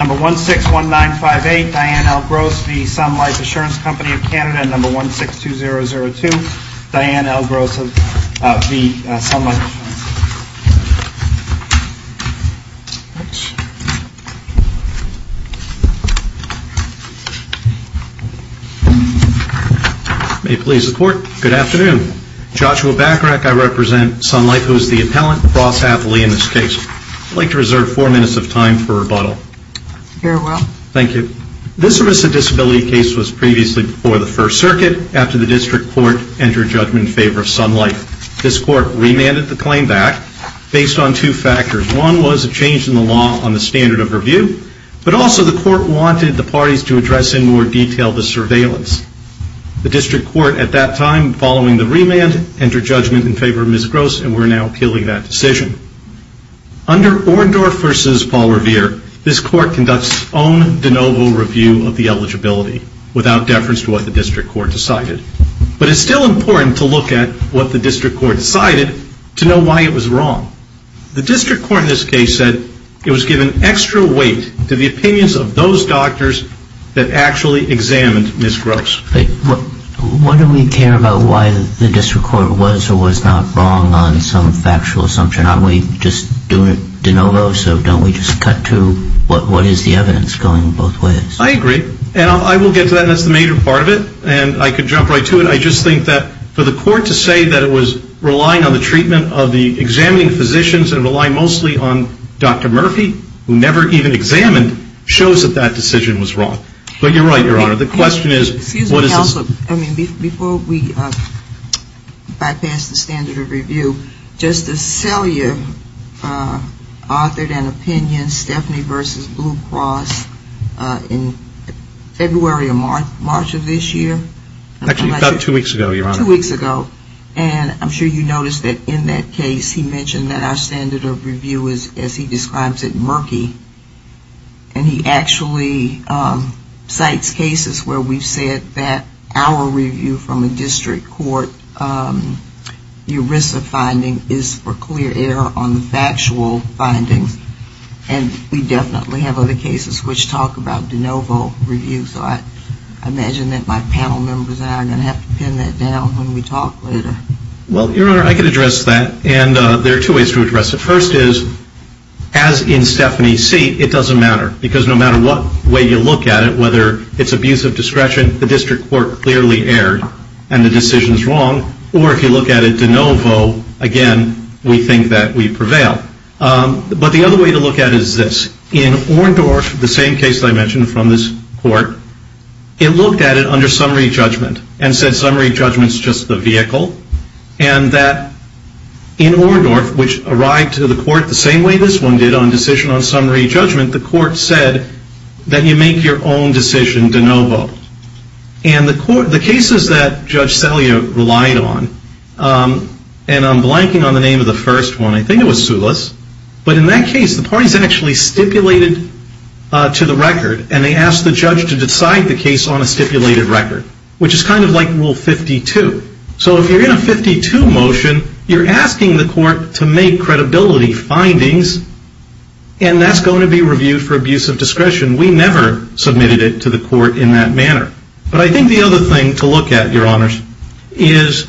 of Canada and number 162002, Diane L. Gross of the Sun Life Assurance Co. May it please the Court, good afternoon. Joshua Bacarach, I represent Sun Life, who is the Thank you. This risk of disability case was previously before the First Circuit after the District Court entered judgment in favor of Sun Life. This Court remanded the claim back based on two factors. One was a change in the law on the standard of review, but also the Court wanted the parties to address in more detail the surveillance. The District Court at that time, following the remand, entered judgment in favor of Ms. Gross and we are now appealing that decision. Under Orndorff v. Paul Revere, this Court conducts its own de novo review of the eligibility without deference to what the District Court decided. But it's still important to look at what the District Court decided to know why it was wrong. The District Court in this case said it was giving extra weight to the opinions of those doctors that actually examined Ms. Gross. But why do we care about why the District Court was or was not wrong on some factual assumption? Aren't we just doing it de novo? So don't we just cut to what is the evidence going both ways? I agree. And I will get to that, and that's the major part of it. And I could jump right to it. I just think that for the Court to say that it was relying on the treatment of the examining physicians and relying mostly on Dr. Murphy, who never even examined, shows that that decision was wrong. But you're right, Your Honor. Excuse me, Counselor. I mean, before we bypass the standard of review, Justice Selyer authored an opinion, Stephanie v. Blue Cross, in February or March of this year. Actually, about two weeks ago, Your Honor. Two weeks ago. And I'm sure you noticed that in that case he mentioned that our standard of review is, as he describes it, murky. And he actually cites cases where we've said that our review from a District Court ERISA finding is for clear error on the factual findings. And we definitely have other cases which talk about de novo review. So I imagine that my panel members and I are going to have to pin that down when we talk later. Well, Your Honor, I can address that. And there are two ways to address it. First is, as in Stephanie's seat, it doesn't matter. Because no matter what way you look at it, whether it's abuse of discretion, the District Court clearly erred and the decision is wrong. Or if you look at it de novo, again, we think that we prevail. But the other way to look at it is this. In Orndorff, the same case that I mentioned from this court, it looked at it under summary judgment and said summary judgment's just the vehicle. And that in Orndorff, which arrived to the court the same way this one did on decision on summary judgment, the court said that you make your own decision de novo. And the cases that Judge Celia relied on, and I'm blanking on the name of the first one, I think it was Sulis. But in that case, the parties actually stipulated to the record, and they asked the judge to decide the case on a stipulated record, which is kind of like Rule 52. So if you're in a 52 motion, you're asking the court to make credibility findings, and that's going to be reviewed for abuse of discretion. We never submitted it to the court in that manner. But I think the other thing to look at, Your Honors, is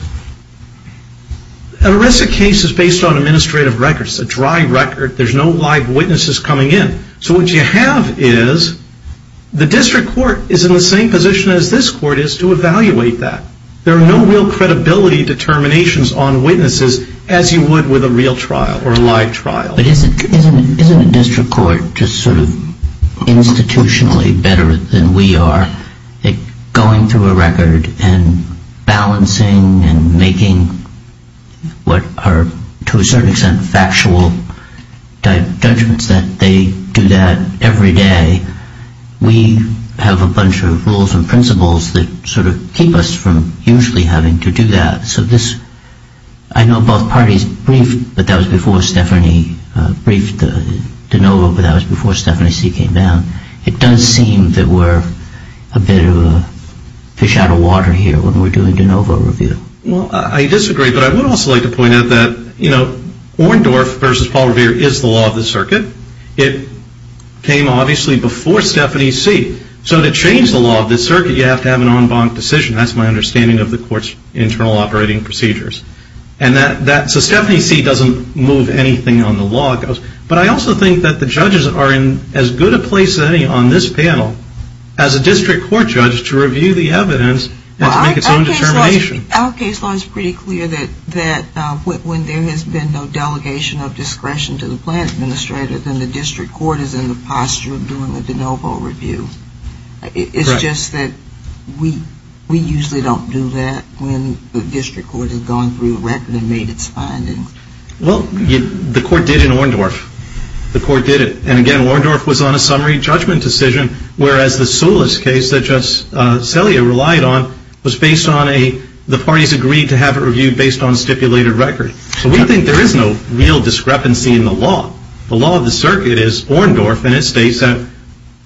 an arrested case is based on administrative records. It's a dry record. There's no live witnesses coming in. So what you have is the district court is in the same position as this court is to evaluate that. There are no real credibility determinations on witnesses as you would with a real trial or a live trial. But isn't a district court just sort of institutionally better than we are at going through a record and balancing and making what are, to a certain extent, factual judgments that they do that every day? We have a bunch of rules and principles that sort of keep us from usually having to do that. So I know both parties briefed, but that was before Stephanie briefed DeNovo, but that was before Stephanie C. came down. It does seem that we're a bit of a fish out of water here when we're doing DeNovo review. Well, I disagree, but I would also like to point out that Orndorff versus Paul Revere is the law of the circuit. It came, obviously, before Stephanie C. So to change the law of the circuit, you have to have an en banc decision. That's my understanding of the court's internal operating procedures. So Stephanie C. doesn't move anything on the law. But I also think that the judges are in as good a place as any on this panel as a district court judge to review the evidence and to make its own determination. Our case law is pretty clear that when there has been no delegation of discretion to the plan administrator, then the district court is in the posture of doing the DeNovo review. It's just that we usually don't do that when the district court has gone through a record and made its findings. Well, the court did in Orndorff. The court did it. And again, Orndorff was on a summary judgment decision, whereas the Solis case that Judge Celia relied on was based on a the parties agreed to have it reviewed based on stipulated record. So we think there is no real discrepancy in the law. The law of the circuit is Orndorff, and it states that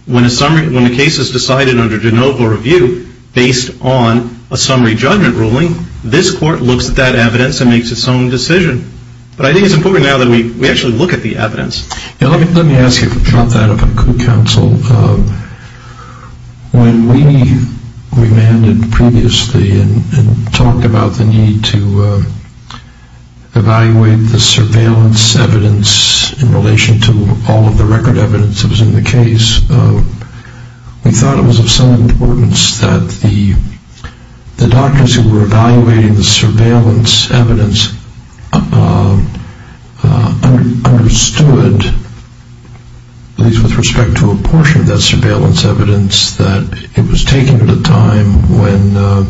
when a case is decided under DeNovo review, based on a summary judgment ruling, this court looks at that evidence and makes its own decision. But I think it's important now that we actually look at the evidence. Let me ask you to drop that up on the Court Council. When we remanded previously and talked about the need to evaluate the surveillance evidence in relation to all of the record evidence that was in the case, we thought it was of some importance that the doctors who were evaluating the surveillance evidence understood, at least with respect to a portion of that surveillance evidence, that it was taken at a time when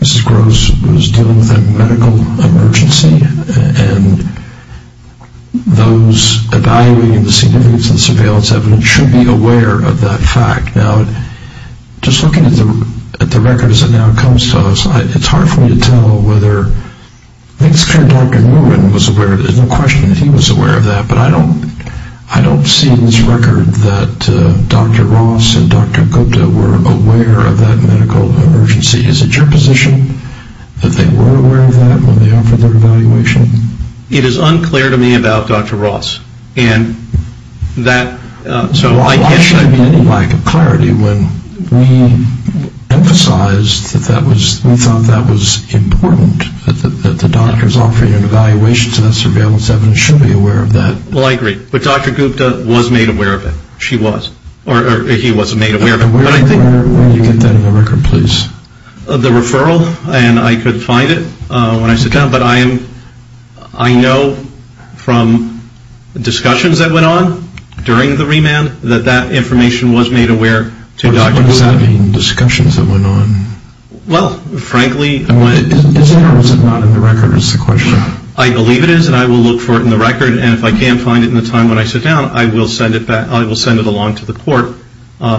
Mrs. Gross was dealing with a medical emergency, and those evaluating the significance of the surveillance evidence should be aware of that fact. Now, just looking at the record as it now comes to us, it's hard for me to tell whether, I think it's clear Dr. Nguyen was aware, there's no question that he was aware of that, but I don't see in this record that Dr. Ross and Dr. Gupta were aware of that medical emergency. Is it your position that they were aware of that when they offered their evaluation? It is unclear to me about Dr. Ross. Why should there be any lack of clarity when we emphasized that we thought that was important, that the doctors offering an evaluation to that surveillance evidence should be aware of that? Well, I agree, but Dr. Gupta was made aware of it, she was, or he was made aware of it. Where do you get that in the record, please? The referral, and I could find it when I sit down, but I know from discussions that went on during the remand that that information was made aware to Dr. Ross. What does that mean, discussions that went on? Well, frankly, it's not in the record. I believe it is, and I will look for it in the record, and if I can't find it in the time when I sit down, I will send it along to the court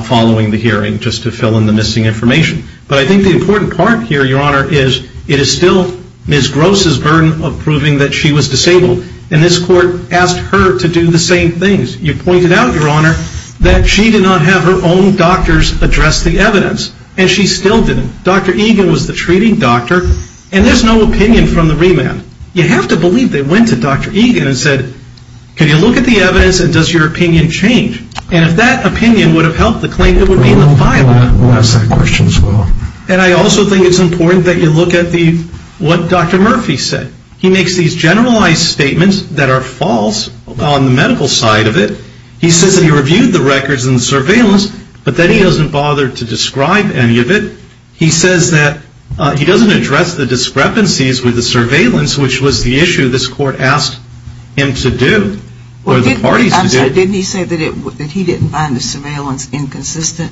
following the hearing, just to fill in the missing information. But I think the important part here, Your Honor, is it is still Ms. Gross' burden of proving that she was disabled, and this court asked her to do the same things. You pointed out, Your Honor, that she did not have her own doctors address the evidence, and she still didn't. Dr. Egan was the treating doctor, and there's no opinion from the remand. You have to believe they went to Dr. Egan and said, can you look at the evidence and does your opinion change? And if that opinion would have helped the claim, it would be in the file. We'll ask that question as well. And I also think it's important that you look at what Dr. Murphy said. He makes these generalized statements that are false on the medical side of it. He says that he reviewed the records and the surveillance, but then he doesn't bother to describe any of it. He says that he doesn't address the discrepancies with the surveillance, which was the issue this court asked him to do, or the parties to do. Didn't he say that he didn't find the surveillance inconsistent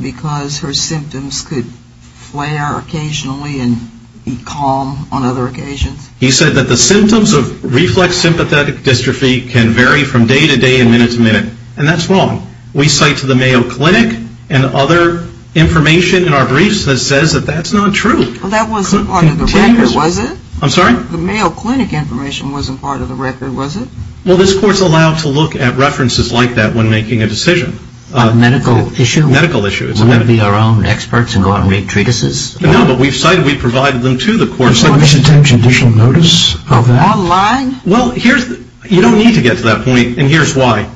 because her symptoms could flare occasionally and be calm on other occasions? He said that the symptoms of reflex sympathetic dystrophy can vary from day to day and minute to minute, and that's wrong. We cite to the Mayo Clinic and other information in our briefs that says that that's not true. Well, that wasn't part of the record, was it? I'm sorry? The Mayo Clinic information wasn't part of the record, was it? Well, this court's allowed to look at references like that when making a decision. A medical issue? A medical issue. We want to be our own experts and go out and make treatises? No, but we've cited, we've provided them to the court. A submission to additional notice of online? Well, you don't need to get to that point, and here's why.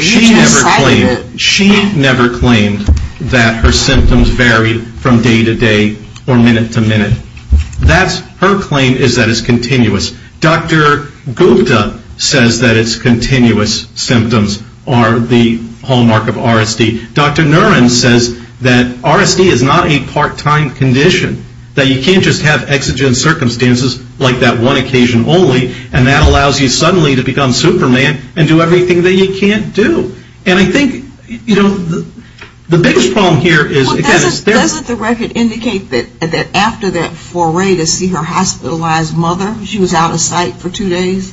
She never claimed that her symptoms varied from day to day or minute to minute. Her claim is that it's continuous. Dr. Gupta says that it's continuous symptoms are the hallmark of RSD. Dr. Niren says that RSD is not a part-time condition, that you can't just have exigent circumstances like that one occasion only, and that allows you suddenly to become Superman and do everything that you can't do. And I think, you know, the biggest problem here is, again, Doesn't the record indicate that after that foray to see her hospitalized mother, she was out of sight for two days,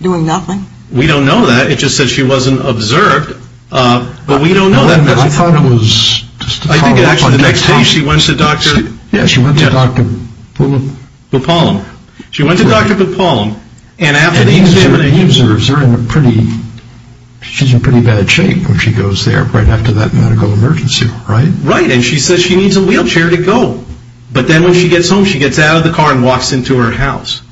doing nothing? We don't know that. It just said she wasn't observed, but we don't know that. I thought it was just a follow-up. I think actually the next day she went to Dr. Yeah, she went to Dr. Bupalam. Bupalam. She went to Dr. Bupalam, and after the examination. He observes her in a pretty, she's in pretty bad shape when she goes there right after that medical emergency, right? And she says she needs a wheelchair to go. But then when she gets home, she gets out of the car and walks into her house.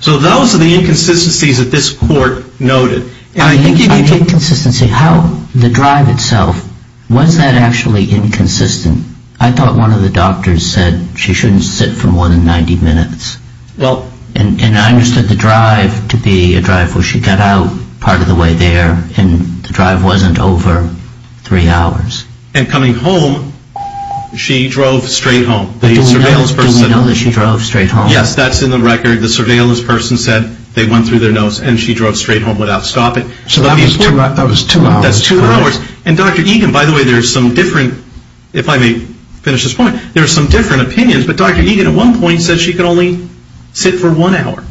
So those are the inconsistencies that this court noted. I think inconsistency, how the drive itself, was that actually inconsistent? I thought one of the doctors said she shouldn't sit for more than 90 minutes. Well. And I understood the drive to be a drive where she got out part of the way there, and the drive wasn't over three hours. And coming home, she drove straight home. The surveillance person. Do we know that she drove straight home? Yes, that's in the record. The surveillance person said they went through their notes, and she drove straight home without stopping. So that was two hours. That's two hours. And Dr. Egan, by the way, there's some different, if I may finish this point, there's some different opinions. But Dr. Egan at one point said she could only sit for one hour.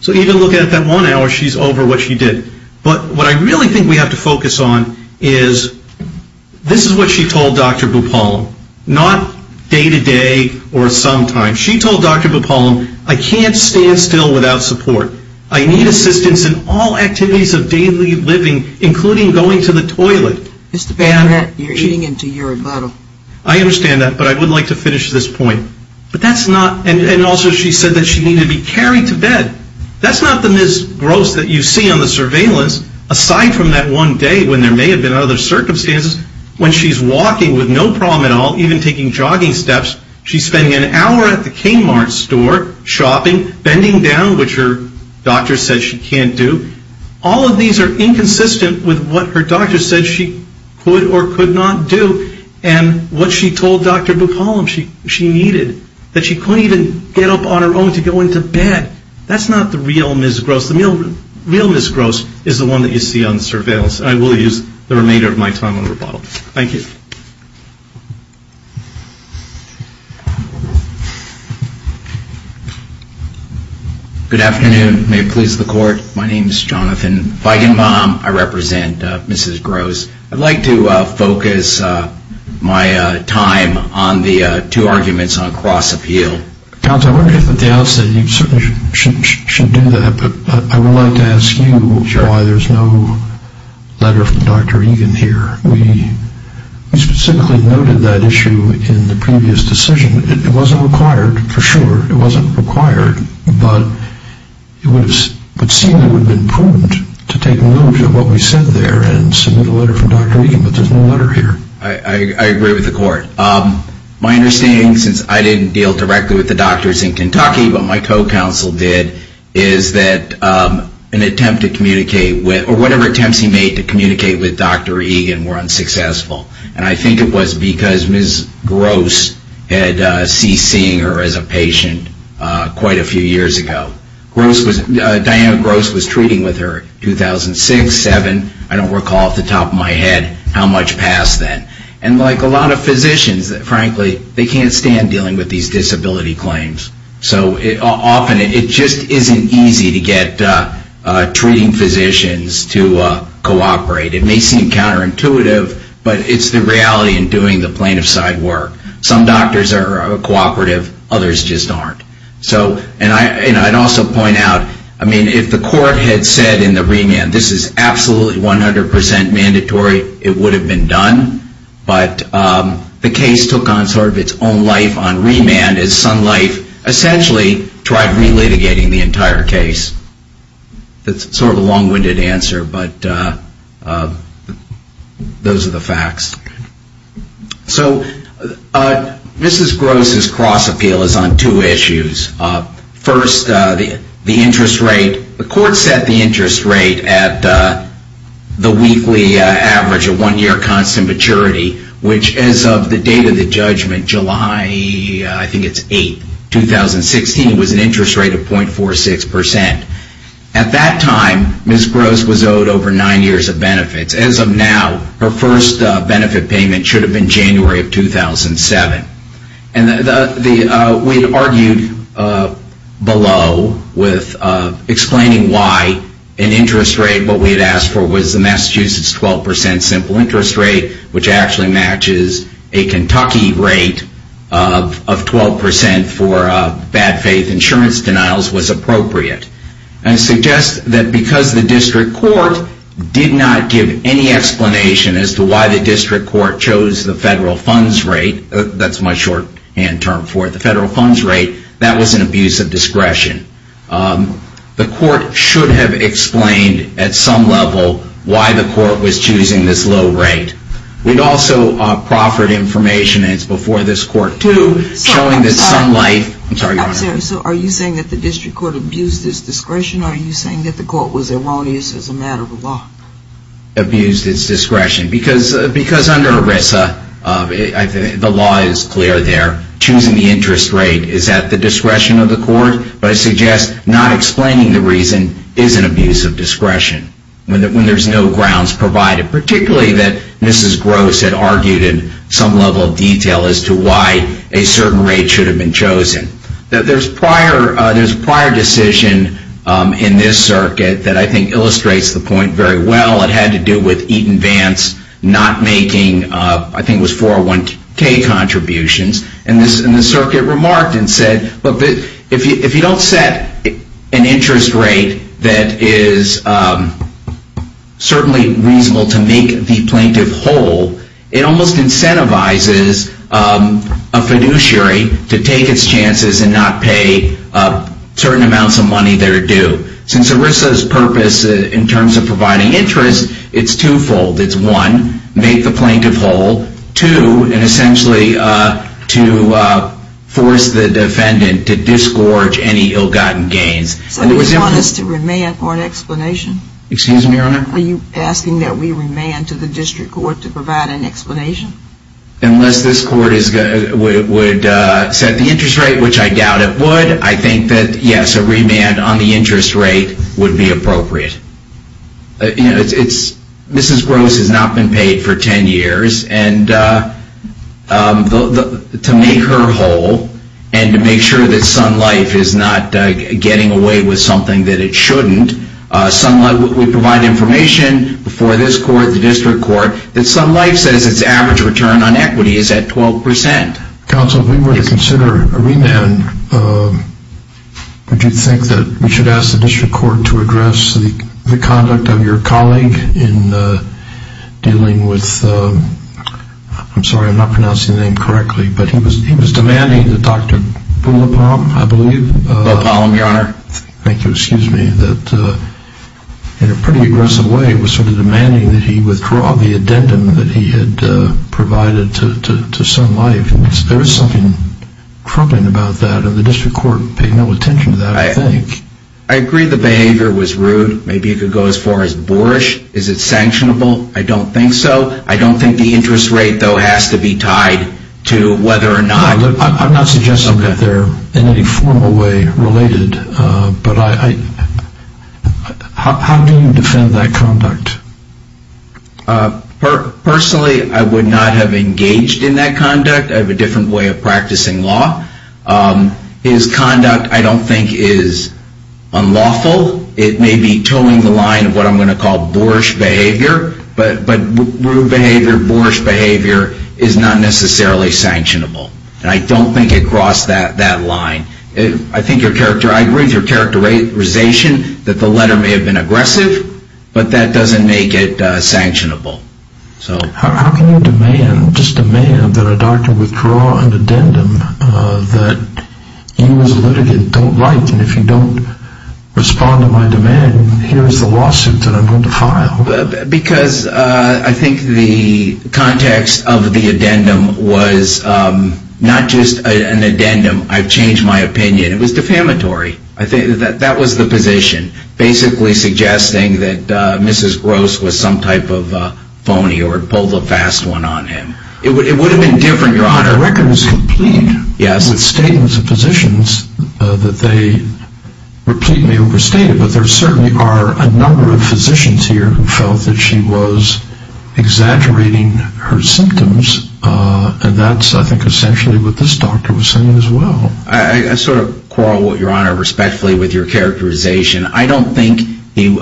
So even looking at that one hour, she's over what she did. But what I really think we have to focus on is this is what she told Dr. Bupalam. Not day-to-day or sometimes. She told Dr. Bupalam, I can't stand still without support. I need assistance in all activities of daily living, including going to the toilet. Mr. Bader, you're eating into your bottle. I understand that, but I would like to finish this point. But that's not, and also she said that she needed to be carried to bed. That's not the Ms. Gross that you see on the surveillance, aside from that one day when there may have been other circumstances, when she's walking with no problem at all, even taking jogging steps. She's spending an hour at the Kmart store shopping, bending down, which her doctor said she can't do. All of these are inconsistent with what her doctor said she could or could not do, and what she told Dr. Bupalam she needed, that she couldn't even get up on her own to go into bed. That's not the real Ms. Gross. The real Ms. Gross is the one that you see on the surveillance. I will use the remainder of my time on the rebuttal. Thank you. Good afternoon. May it please the Court. My name is Jonathan Feigenbaum. I represent Mrs. Gross. I'd like to focus my time on the two arguments on cross-appeal. Counsel, I wonder if at the outset you certainly should do that, but I would like to ask you why there's no letter from Dr. Egan here. We specifically noted that issue in the previous decision. It wasn't required, for sure. It wasn't required, but it would seem it would have been prudent to take note of what we said there and submit a letter from Dr. Egan, but there's no letter here. I agree with the Court. My understanding, since I didn't deal directly with the doctors in Kentucky, but my co-counsel did, is that an attempt to communicate with, or whatever attempts he made to communicate with Dr. Egan were unsuccessful. And I think it was because Ms. Gross had ceased seeing her as a patient quite a few years ago. Diana Gross was treating with her 2006-7. I don't recall off the top of my head how much passed then. And like a lot of physicians, frankly, they can't stand dealing with these disability claims. So often it just isn't easy to get treating physicians to cooperate. It may seem counterintuitive, but it's the reality in doing the plaintiff's side work. Some doctors are cooperative. Others just aren't. And I'd also point out, I mean, if the Court had said in the remand, this is absolutely 100% mandatory, it would have been done. But the case took on sort of its own life on remand, as Sun Life essentially tried relitigating the entire case. That's sort of a long-winded answer, but those are the facts. So Mrs. Gross's cross-appeal is on two issues. First, the interest rate. The Court set the interest rate at the weekly average of one-year constant maturity, which as of the date of the judgment, July, I think it's 8th, 2016, was an interest rate of 0.46%. At that time, Mrs. Gross was owed over nine years of benefits. As of now, her first benefit payment should have been January of 2007. And we had argued below with explaining why an interest rate, what we had asked for was the Massachusetts 12% simple interest rate, which actually matches a Kentucky rate of 12% for bad faith insurance denials, was appropriate. And I suggest that because the District Court did not give any explanation as to why the District Court chose the federal funds rate, that's my shorthand term for it, the federal funds rate, that was an abuse of discretion. The Court should have explained at some level why the Court was choosing this low rate. We'd also proffered information, and it's before this Court too, showing that Sun Life... I'm sorry, Your Honor. I'm sorry. So are you saying that the District Court abused its discretion or are you saying that the Court was erroneous as a matter of law? The Court abused its discretion because under ERISA, the law is clear there. Choosing the interest rate is at the discretion of the Court, but I suggest not explaining the reason is an abuse of discretion when there's no grounds provided, particularly that Mrs. Gross had argued in some level of detail as to why a certain rate should have been chosen. There's a prior decision in this circuit that I think illustrates the point very well. It had to do with Eaton Vance not making, I think it was 401K contributions, and the circuit remarked and said, look, if you don't set an interest rate that is certainly reasonable to make the plaintiff whole, it almost incentivizes a fiduciary to take its chances and not pay certain amounts of money that are due. Since ERISA's purpose in terms of providing interest, it's twofold. It's one, make the plaintiff whole. Two, and essentially to force the defendant to disgorge any ill-gotten gains. So you want us to remand for an explanation? Excuse me, Your Honor? Are you asking that we remand to the District Court to provide an explanation? Unless this Court would set the interest rate, which I doubt it would, I think that, yes, a remand on the interest rate would be appropriate. Mrs. Gross has not been paid for 10 years, and to make her whole and to make sure that Sun Life is not getting away with something that it shouldn't, Sun Life would provide information before this Court, the District Court, that Sun Life says its average return on equity is at 12%. Counsel, if we were to consider a remand, would you think that we should ask the District Court to address the conduct of your colleague in dealing with, I'm sorry, I'm not pronouncing the name correctly, but he was demanding that Dr. Bullapalm, I believe, Bullapalm, Your Honor. Thank you. Excuse me, that in a pretty aggressive way, was sort of demanding that he withdraw the addendum that he had provided to Sun Life. There is something troubling about that, and the District Court paid no attention to that, I think. I agree the behavior was rude. Maybe it could go as far as boorish. Is it sanctionable? I don't think so. I don't think the interest rate, though, has to be tied to whether or not. I'm not suggesting that they're in any formal way related, but how do you defend that conduct? Personally, I would not have engaged in that conduct. I have a different way of practicing law. His conduct, I don't think, is unlawful. It may be toeing the line of what I'm going to call boorish behavior, but rude behavior, boorish behavior is not necessarily sanctionable, and I don't think it crossed that line. I agree with your characterization that the letter may have been aggressive, but that doesn't make it sanctionable. How can you just demand that a doctor withdraw an addendum that you as a litigant don't write, and if you don't respond to my demand, here is the lawsuit that I'm going to file? Because I think the context of the addendum was not just an addendum. I've changed my opinion. It was defamatory. That was the position, basically suggesting that Mrs. Gross was some type of phony or pulled a fast one on him. It would have been different, Your Honor. I reckon it's complete. Yes. It's statements of physicians that they repeatedly overstated, but there certainly are a number of physicians here who felt that she was exaggerating her symptoms, and that's, I think, essentially what this doctor was saying as well. I sort of quarrel, Your Honor, respectfully with your characterization. I don't think the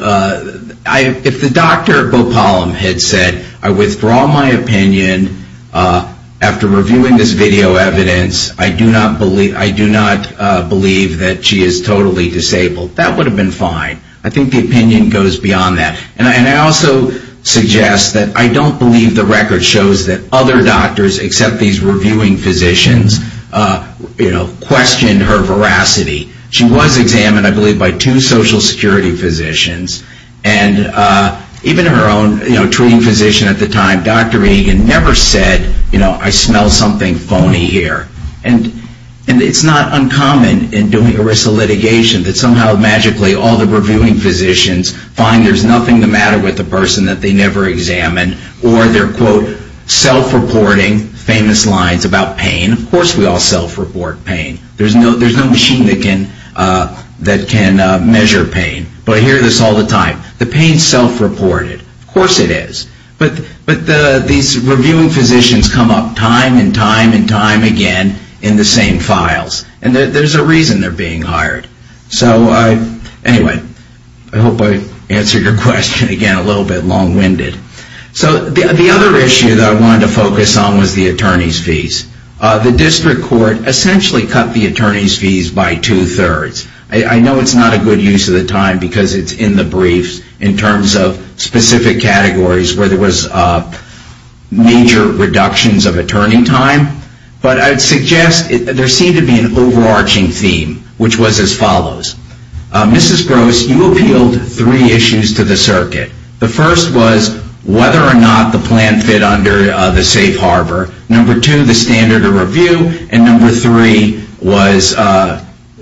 Dr. Bopolam had said, I withdraw my opinion after reviewing this video evidence. I do not believe that she is totally disabled. That would have been fine. I think the opinion goes beyond that, and I also suggest that I don't believe the record shows that other doctors, except these reviewing physicians, questioned her veracity. She was examined, I believe, by two Social Security physicians, and even her own treating physician at the time, Dr. Egan, never said, you know, I smell something phony here. And it's not uncommon in doing ERISA litigation that somehow, magically, all the reviewing physicians find there's nothing the matter with the person that they never examined, or they're, quote, self-reporting famous lines about pain. Of course we all self-report pain. There's no machine that can measure pain. But I hear this all the time. The pain's self-reported. Of course it is. But these reviewing physicians come up time and time and time again in the same files, and there's a reason they're being hired. So anyway, I hope I answered your question, again, a little bit long-winded. So the other issue that I wanted to focus on was the attorney's fees. The district court essentially cut the attorney's fees by two-thirds. I know it's not a good use of the time because it's in the briefs in terms of specific categories where there was major reductions of attorney time, but I'd suggest there seemed to be an overarching theme, which was as follows. Mrs. Gross, you appealed three issues to the circuit. The first was whether or not the plan fit under the safe harbor. Number two, the standard of review. And number three was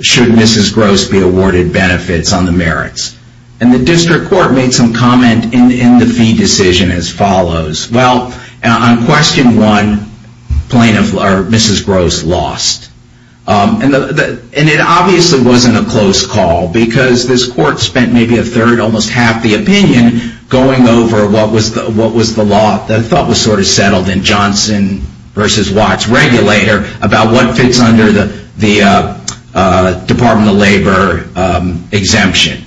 should Mrs. Gross be awarded benefits on the merits. And the district court made some comment in the fee decision as follows. Well, on question one, Mrs. Gross lost. And it obviously wasn't a close call because this court spent maybe a third, almost half the opinion going over what was the law that was sort of settled in Johnson versus Watts regulator about what fits under the Department of Labor exemption.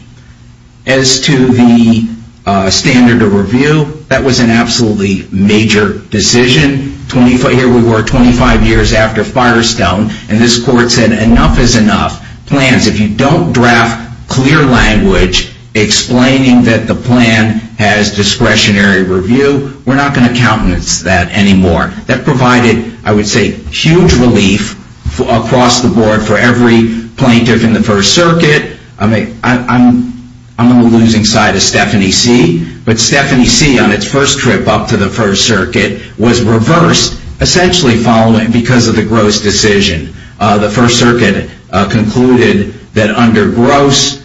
As to the standard of review, that was an absolutely major decision. Here we were 25 years after Firestone, and this court said enough is enough. Plans, if you don't draft clear language explaining that the plan has discretionary review, we're not going to countenance that anymore. That provided, I would say, huge relief across the board for every plaintiff in the First Circuit. I'm on the losing side of Stephanie C. But Stephanie C., on its first trip up to the First Circuit, was reversed, essentially because of the Gross decision. The First Circuit concluded that under Gross,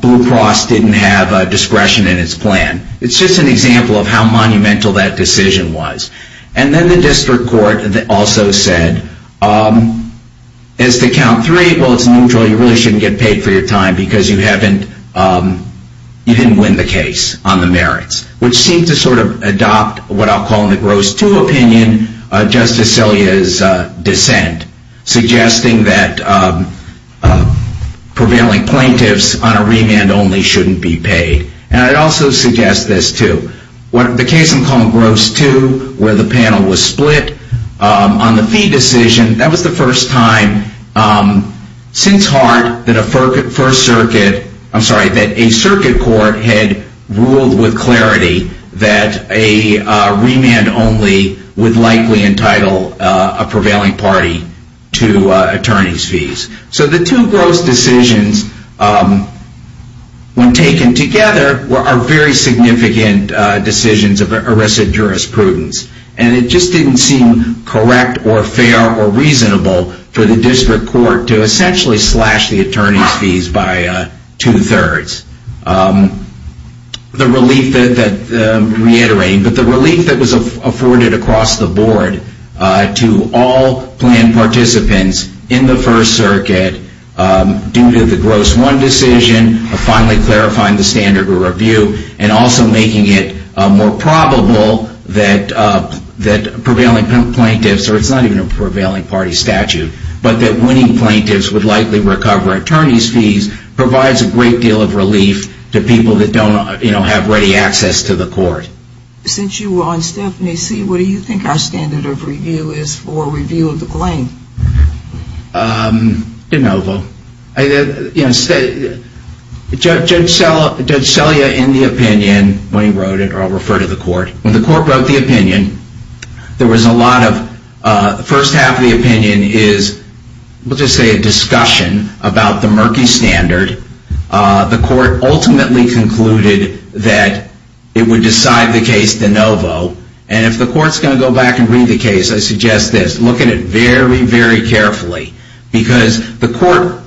Blue Cross didn't have discretion in its plan. It's just an example of how monumental that decision was. And then the district court also said, as to count three, well, it's neutral, you really shouldn't get paid for your time, because you didn't win the case on the merits, which seemed to sort of adopt what I'll call in the Gross 2 opinion Justice Sillia's dissent, suggesting that prevailing plaintiffs on a remand only shouldn't be paid. And I'd also suggest this, too. The case I'm calling Gross 2, where the panel was split, on the fee decision, that was the first time since Hart that a circuit court had ruled with clarity that a remand only would likely entitle a prevailing party to attorney's fees. So the two Gross decisions, when taken together, are very significant decisions of arrested jurisprudence. And it just didn't seem correct or fair or reasonable for the district court to essentially slash the attorney's fees by two-thirds. The relief that, reiterating, but the relief that was afforded across the board to all planned participants in the First Circuit, due to the Gross 1 decision, finally clarifying the standard review, and also making it more probable that prevailing plaintiffs, or it's not even a prevailing party statute, but that winning plaintiffs would likely recover attorney's fees, provides a great deal of relief to people that don't have ready access to the court. Since you were on Stephanie, what do you think our standard of review is for review of the claim? De Novo. Judge Selya, in the opinion, when he wrote it, or I'll refer to the court, when the court wrote the opinion, there was a lot of, the first half of the opinion is, we'll just say a discussion, about the murky standard. The court ultimately concluded that it would decide the case De Novo. I suggest this. Look at it very, very carefully. Because the court,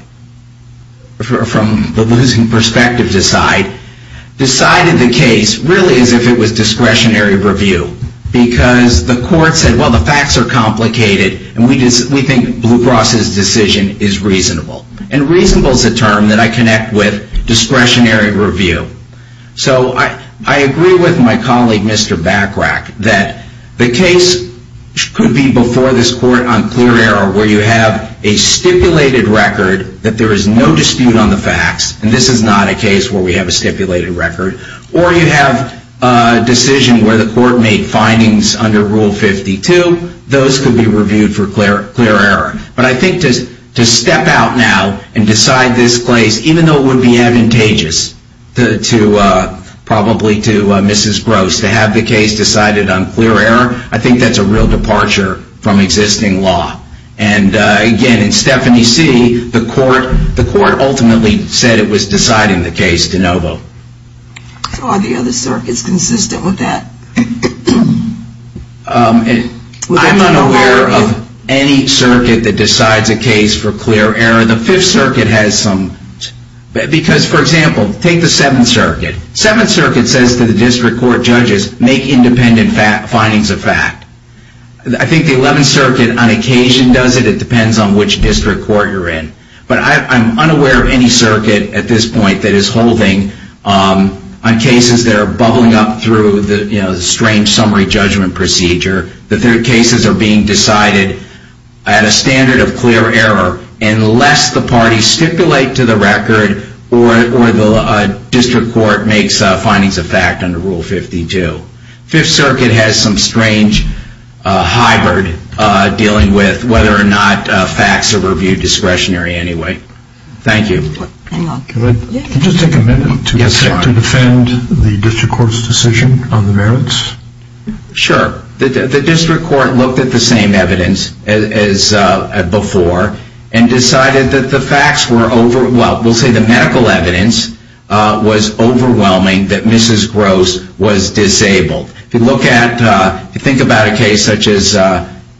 from the losing perspective's side, decided the case really as if it was discretionary review. Because the court said, well, the facts are complicated, and we think Blue Cross's decision is reasonable. And reasonable is a term that I connect with discretionary review. So I agree with my colleague, Mr. Bachrach, that the case could be before this court on clear error, where you have a stipulated record that there is no dispute on the facts. And this is not a case where we have a stipulated record. Or you have a decision where the court made findings under Rule 52. Those could be reviewed for clear error. But I think to step out now and decide this case, even though it would be advantageous, probably to Mrs. Gross, to have the case decided on clear error, I think that's a real departure from existing law. And again, in Stephanie C., the court ultimately said it was deciding the case De Novo. So are the other circuits consistent with that? I'm unaware of any circuit that decides a case for clear error. The Fifth Circuit has some. Because, for example, take the Seventh Circuit. Seventh Circuit says to the district court judges, make independent findings of fact. I think the Eleventh Circuit, on occasion, does it. It depends on which district court you're in. But I'm unaware of any circuit, at this point, that is holding on cases that are bubbling up through the strange summary judgment procedure, that their cases are being decided at a standard of clear error, unless the parties stipulate to the record or the district court makes findings of fact under Rule 52. The Fifth Circuit has some strange hybrid dealing with whether or not facts are reviewed discretionary anyway. Thank you. Can I just take a minute to defend the district court's decision on the merits? Sure. The district court looked at the same evidence as before and decided that the medical evidence was overwhelming that Mrs. Gross was disabled. If you think about a case such as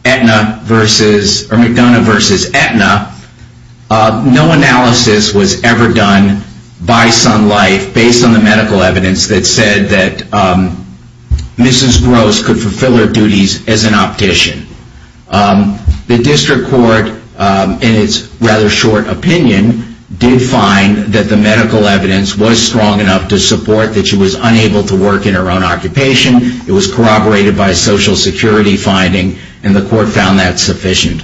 McDonough v. Aetna, no analysis was ever done by Sun Life based on the medical evidence that said that Mrs. Gross could fulfill her duties as an optician. The district court, in its rather short opinion, did find that the medical evidence was strong enough to support that she was unable to work in her own occupation, it was corroborated by social security finding, and the court found that sufficient.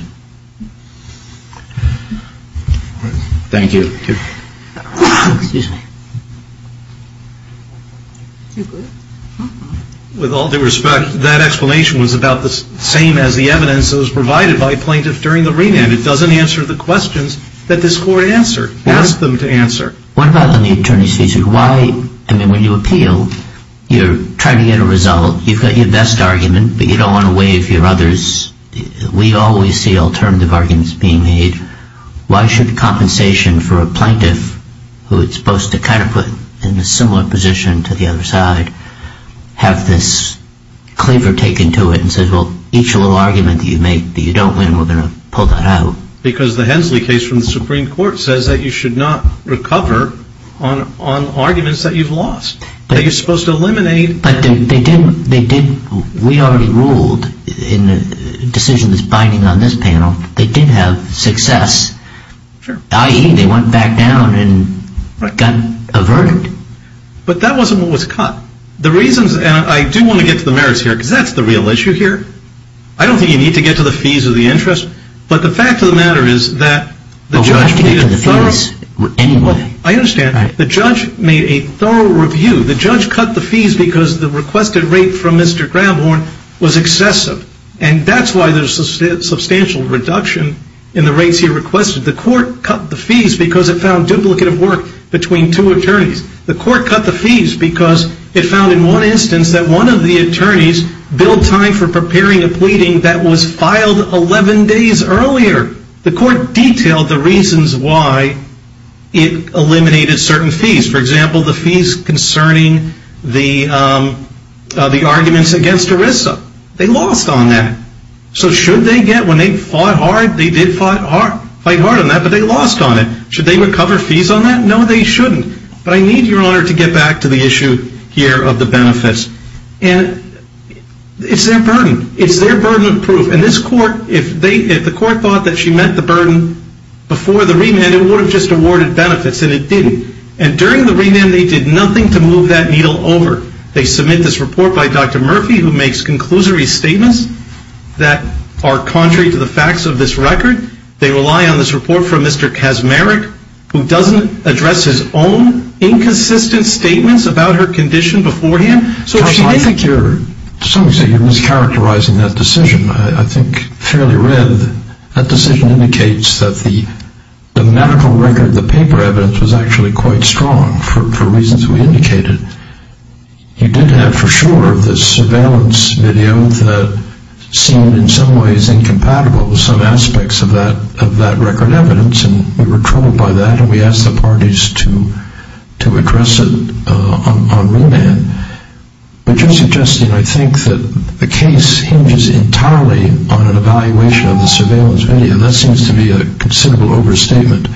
Thank you. Excuse me. With all due respect, that explanation was about the same as the evidence that was provided by a plaintiff during the remand. It doesn't answer the questions that this court asked them to answer. What about on the attorney's thesis? When you appeal, you're trying to get a result. You've got your best argument, but you don't want to waive your other's. We always see alternative arguments being made. Why should compensation for a plaintiff, who is supposed to put in a similar position to the other side, have this cleaver taken to it and says, each little argument that you make that you don't win, we're going to pull that out? Because the Hensley case from the Supreme Court says that you should not recover on arguments that you've lost. That you're supposed to eliminate. But we already ruled in the decision that's binding on this panel, they did have success, i.e., they went back down and got averted. But that wasn't what was cut. The reasons, and I do want to get to the merits here, because that's the real issue here. I don't think you need to get to the fees or the interest, but the fact of the matter is that the judge made a thorough review. I understand. The judge made a thorough review. The judge cut the fees because the requested rate from Mr. Grabhorn was excessive. And that's why there's a substantial reduction in the rates he requested. The court cut the fees because it found duplicative work between two attorneys. The court cut the fees because it found in one instance that one of the attorneys billed time for preparing a pleading that was filed 11 days earlier. The court detailed the reasons why it eliminated certain fees. For example, the fees concerning the arguments against ERISA. They lost on that. So should they get, when they fought hard, they did fight hard on that, but they lost on it. Should they recover fees on that? No, they shouldn't. But I need, Your Honor, to get back to the issue here of the benefits. And it's their burden. It's their burden of proof. And this court, if the court thought that she met the burden before the remand, it would have just awarded benefits, and it didn't. And during the remand, they did nothing to move that needle over. They submit this report by Dr. Murphy, who makes conclusory statements that are contrary to the facts of this record. They rely on this report from Mr. Kaczmarek, who doesn't address his own inconsistent statements about her condition beforehand. So if she didn't cure. To some extent, you're mischaracterizing that decision. I think, fairly read, that decision indicates that the medical record, the paper evidence, was actually quite strong for reasons we indicated. You did have, for sure, the surveillance video that seemed, in some ways, incompatible with some aspects of that record evidence. And we were troubled by that, and we asked the parties to address it on remand. But you're suggesting, I think, that the case hinges entirely on an evaluation of the surveillance video. That seems to be a considerable overstatement.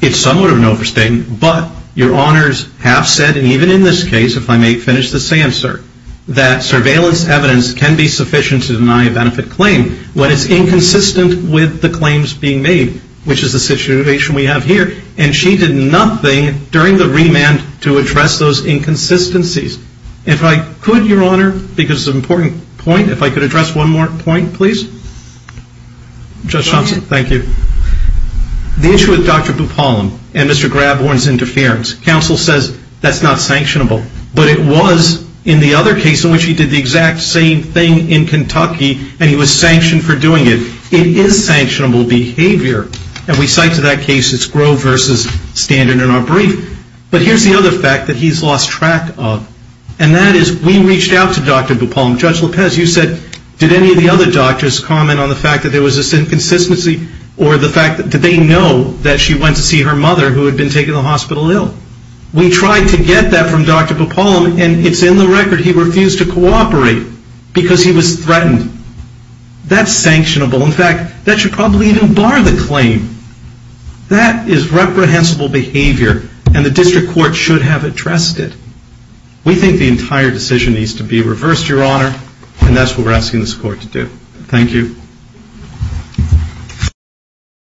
It's somewhat of an overstatement. But Your Honors have said, and even in this case, if I may finish this answer, that surveillance evidence can be sufficient to deny a benefit claim when it's inconsistent with the claims being made, which is the situation we have here. And she did nothing during the remand to address those inconsistencies. If I could, Your Honor, because it's an important point, if I could address one more point, please. Judge Johnson, thank you. The issue with Dr. Bupalam and Mr. Grabhorn's interference, counsel says that's not sanctionable. But it was in the other case in which he did the exact same thing in Kentucky, and he was sanctioned for doing it. It is sanctionable behavior. And we cite to that case it's Grove versus Standen in our brief. But here's the other fact that he's lost track of, and that is we reached out to Dr. Bupalam. Judge Lopez, you said, did any of the other doctors comment on the fact that there was this inconsistency, or did they know that she went to see her mother who had been taken to the hospital ill? We tried to get that from Dr. Bupalam, and it's in the record he refused to cooperate because he was threatened. That's sanctionable. In fact, that should probably even bar the claim. That is reprehensible behavior, and the district court should have addressed it. We think the entire decision needs to be reversed, Your Honor, and that's what we're asking this court to do. Thank you.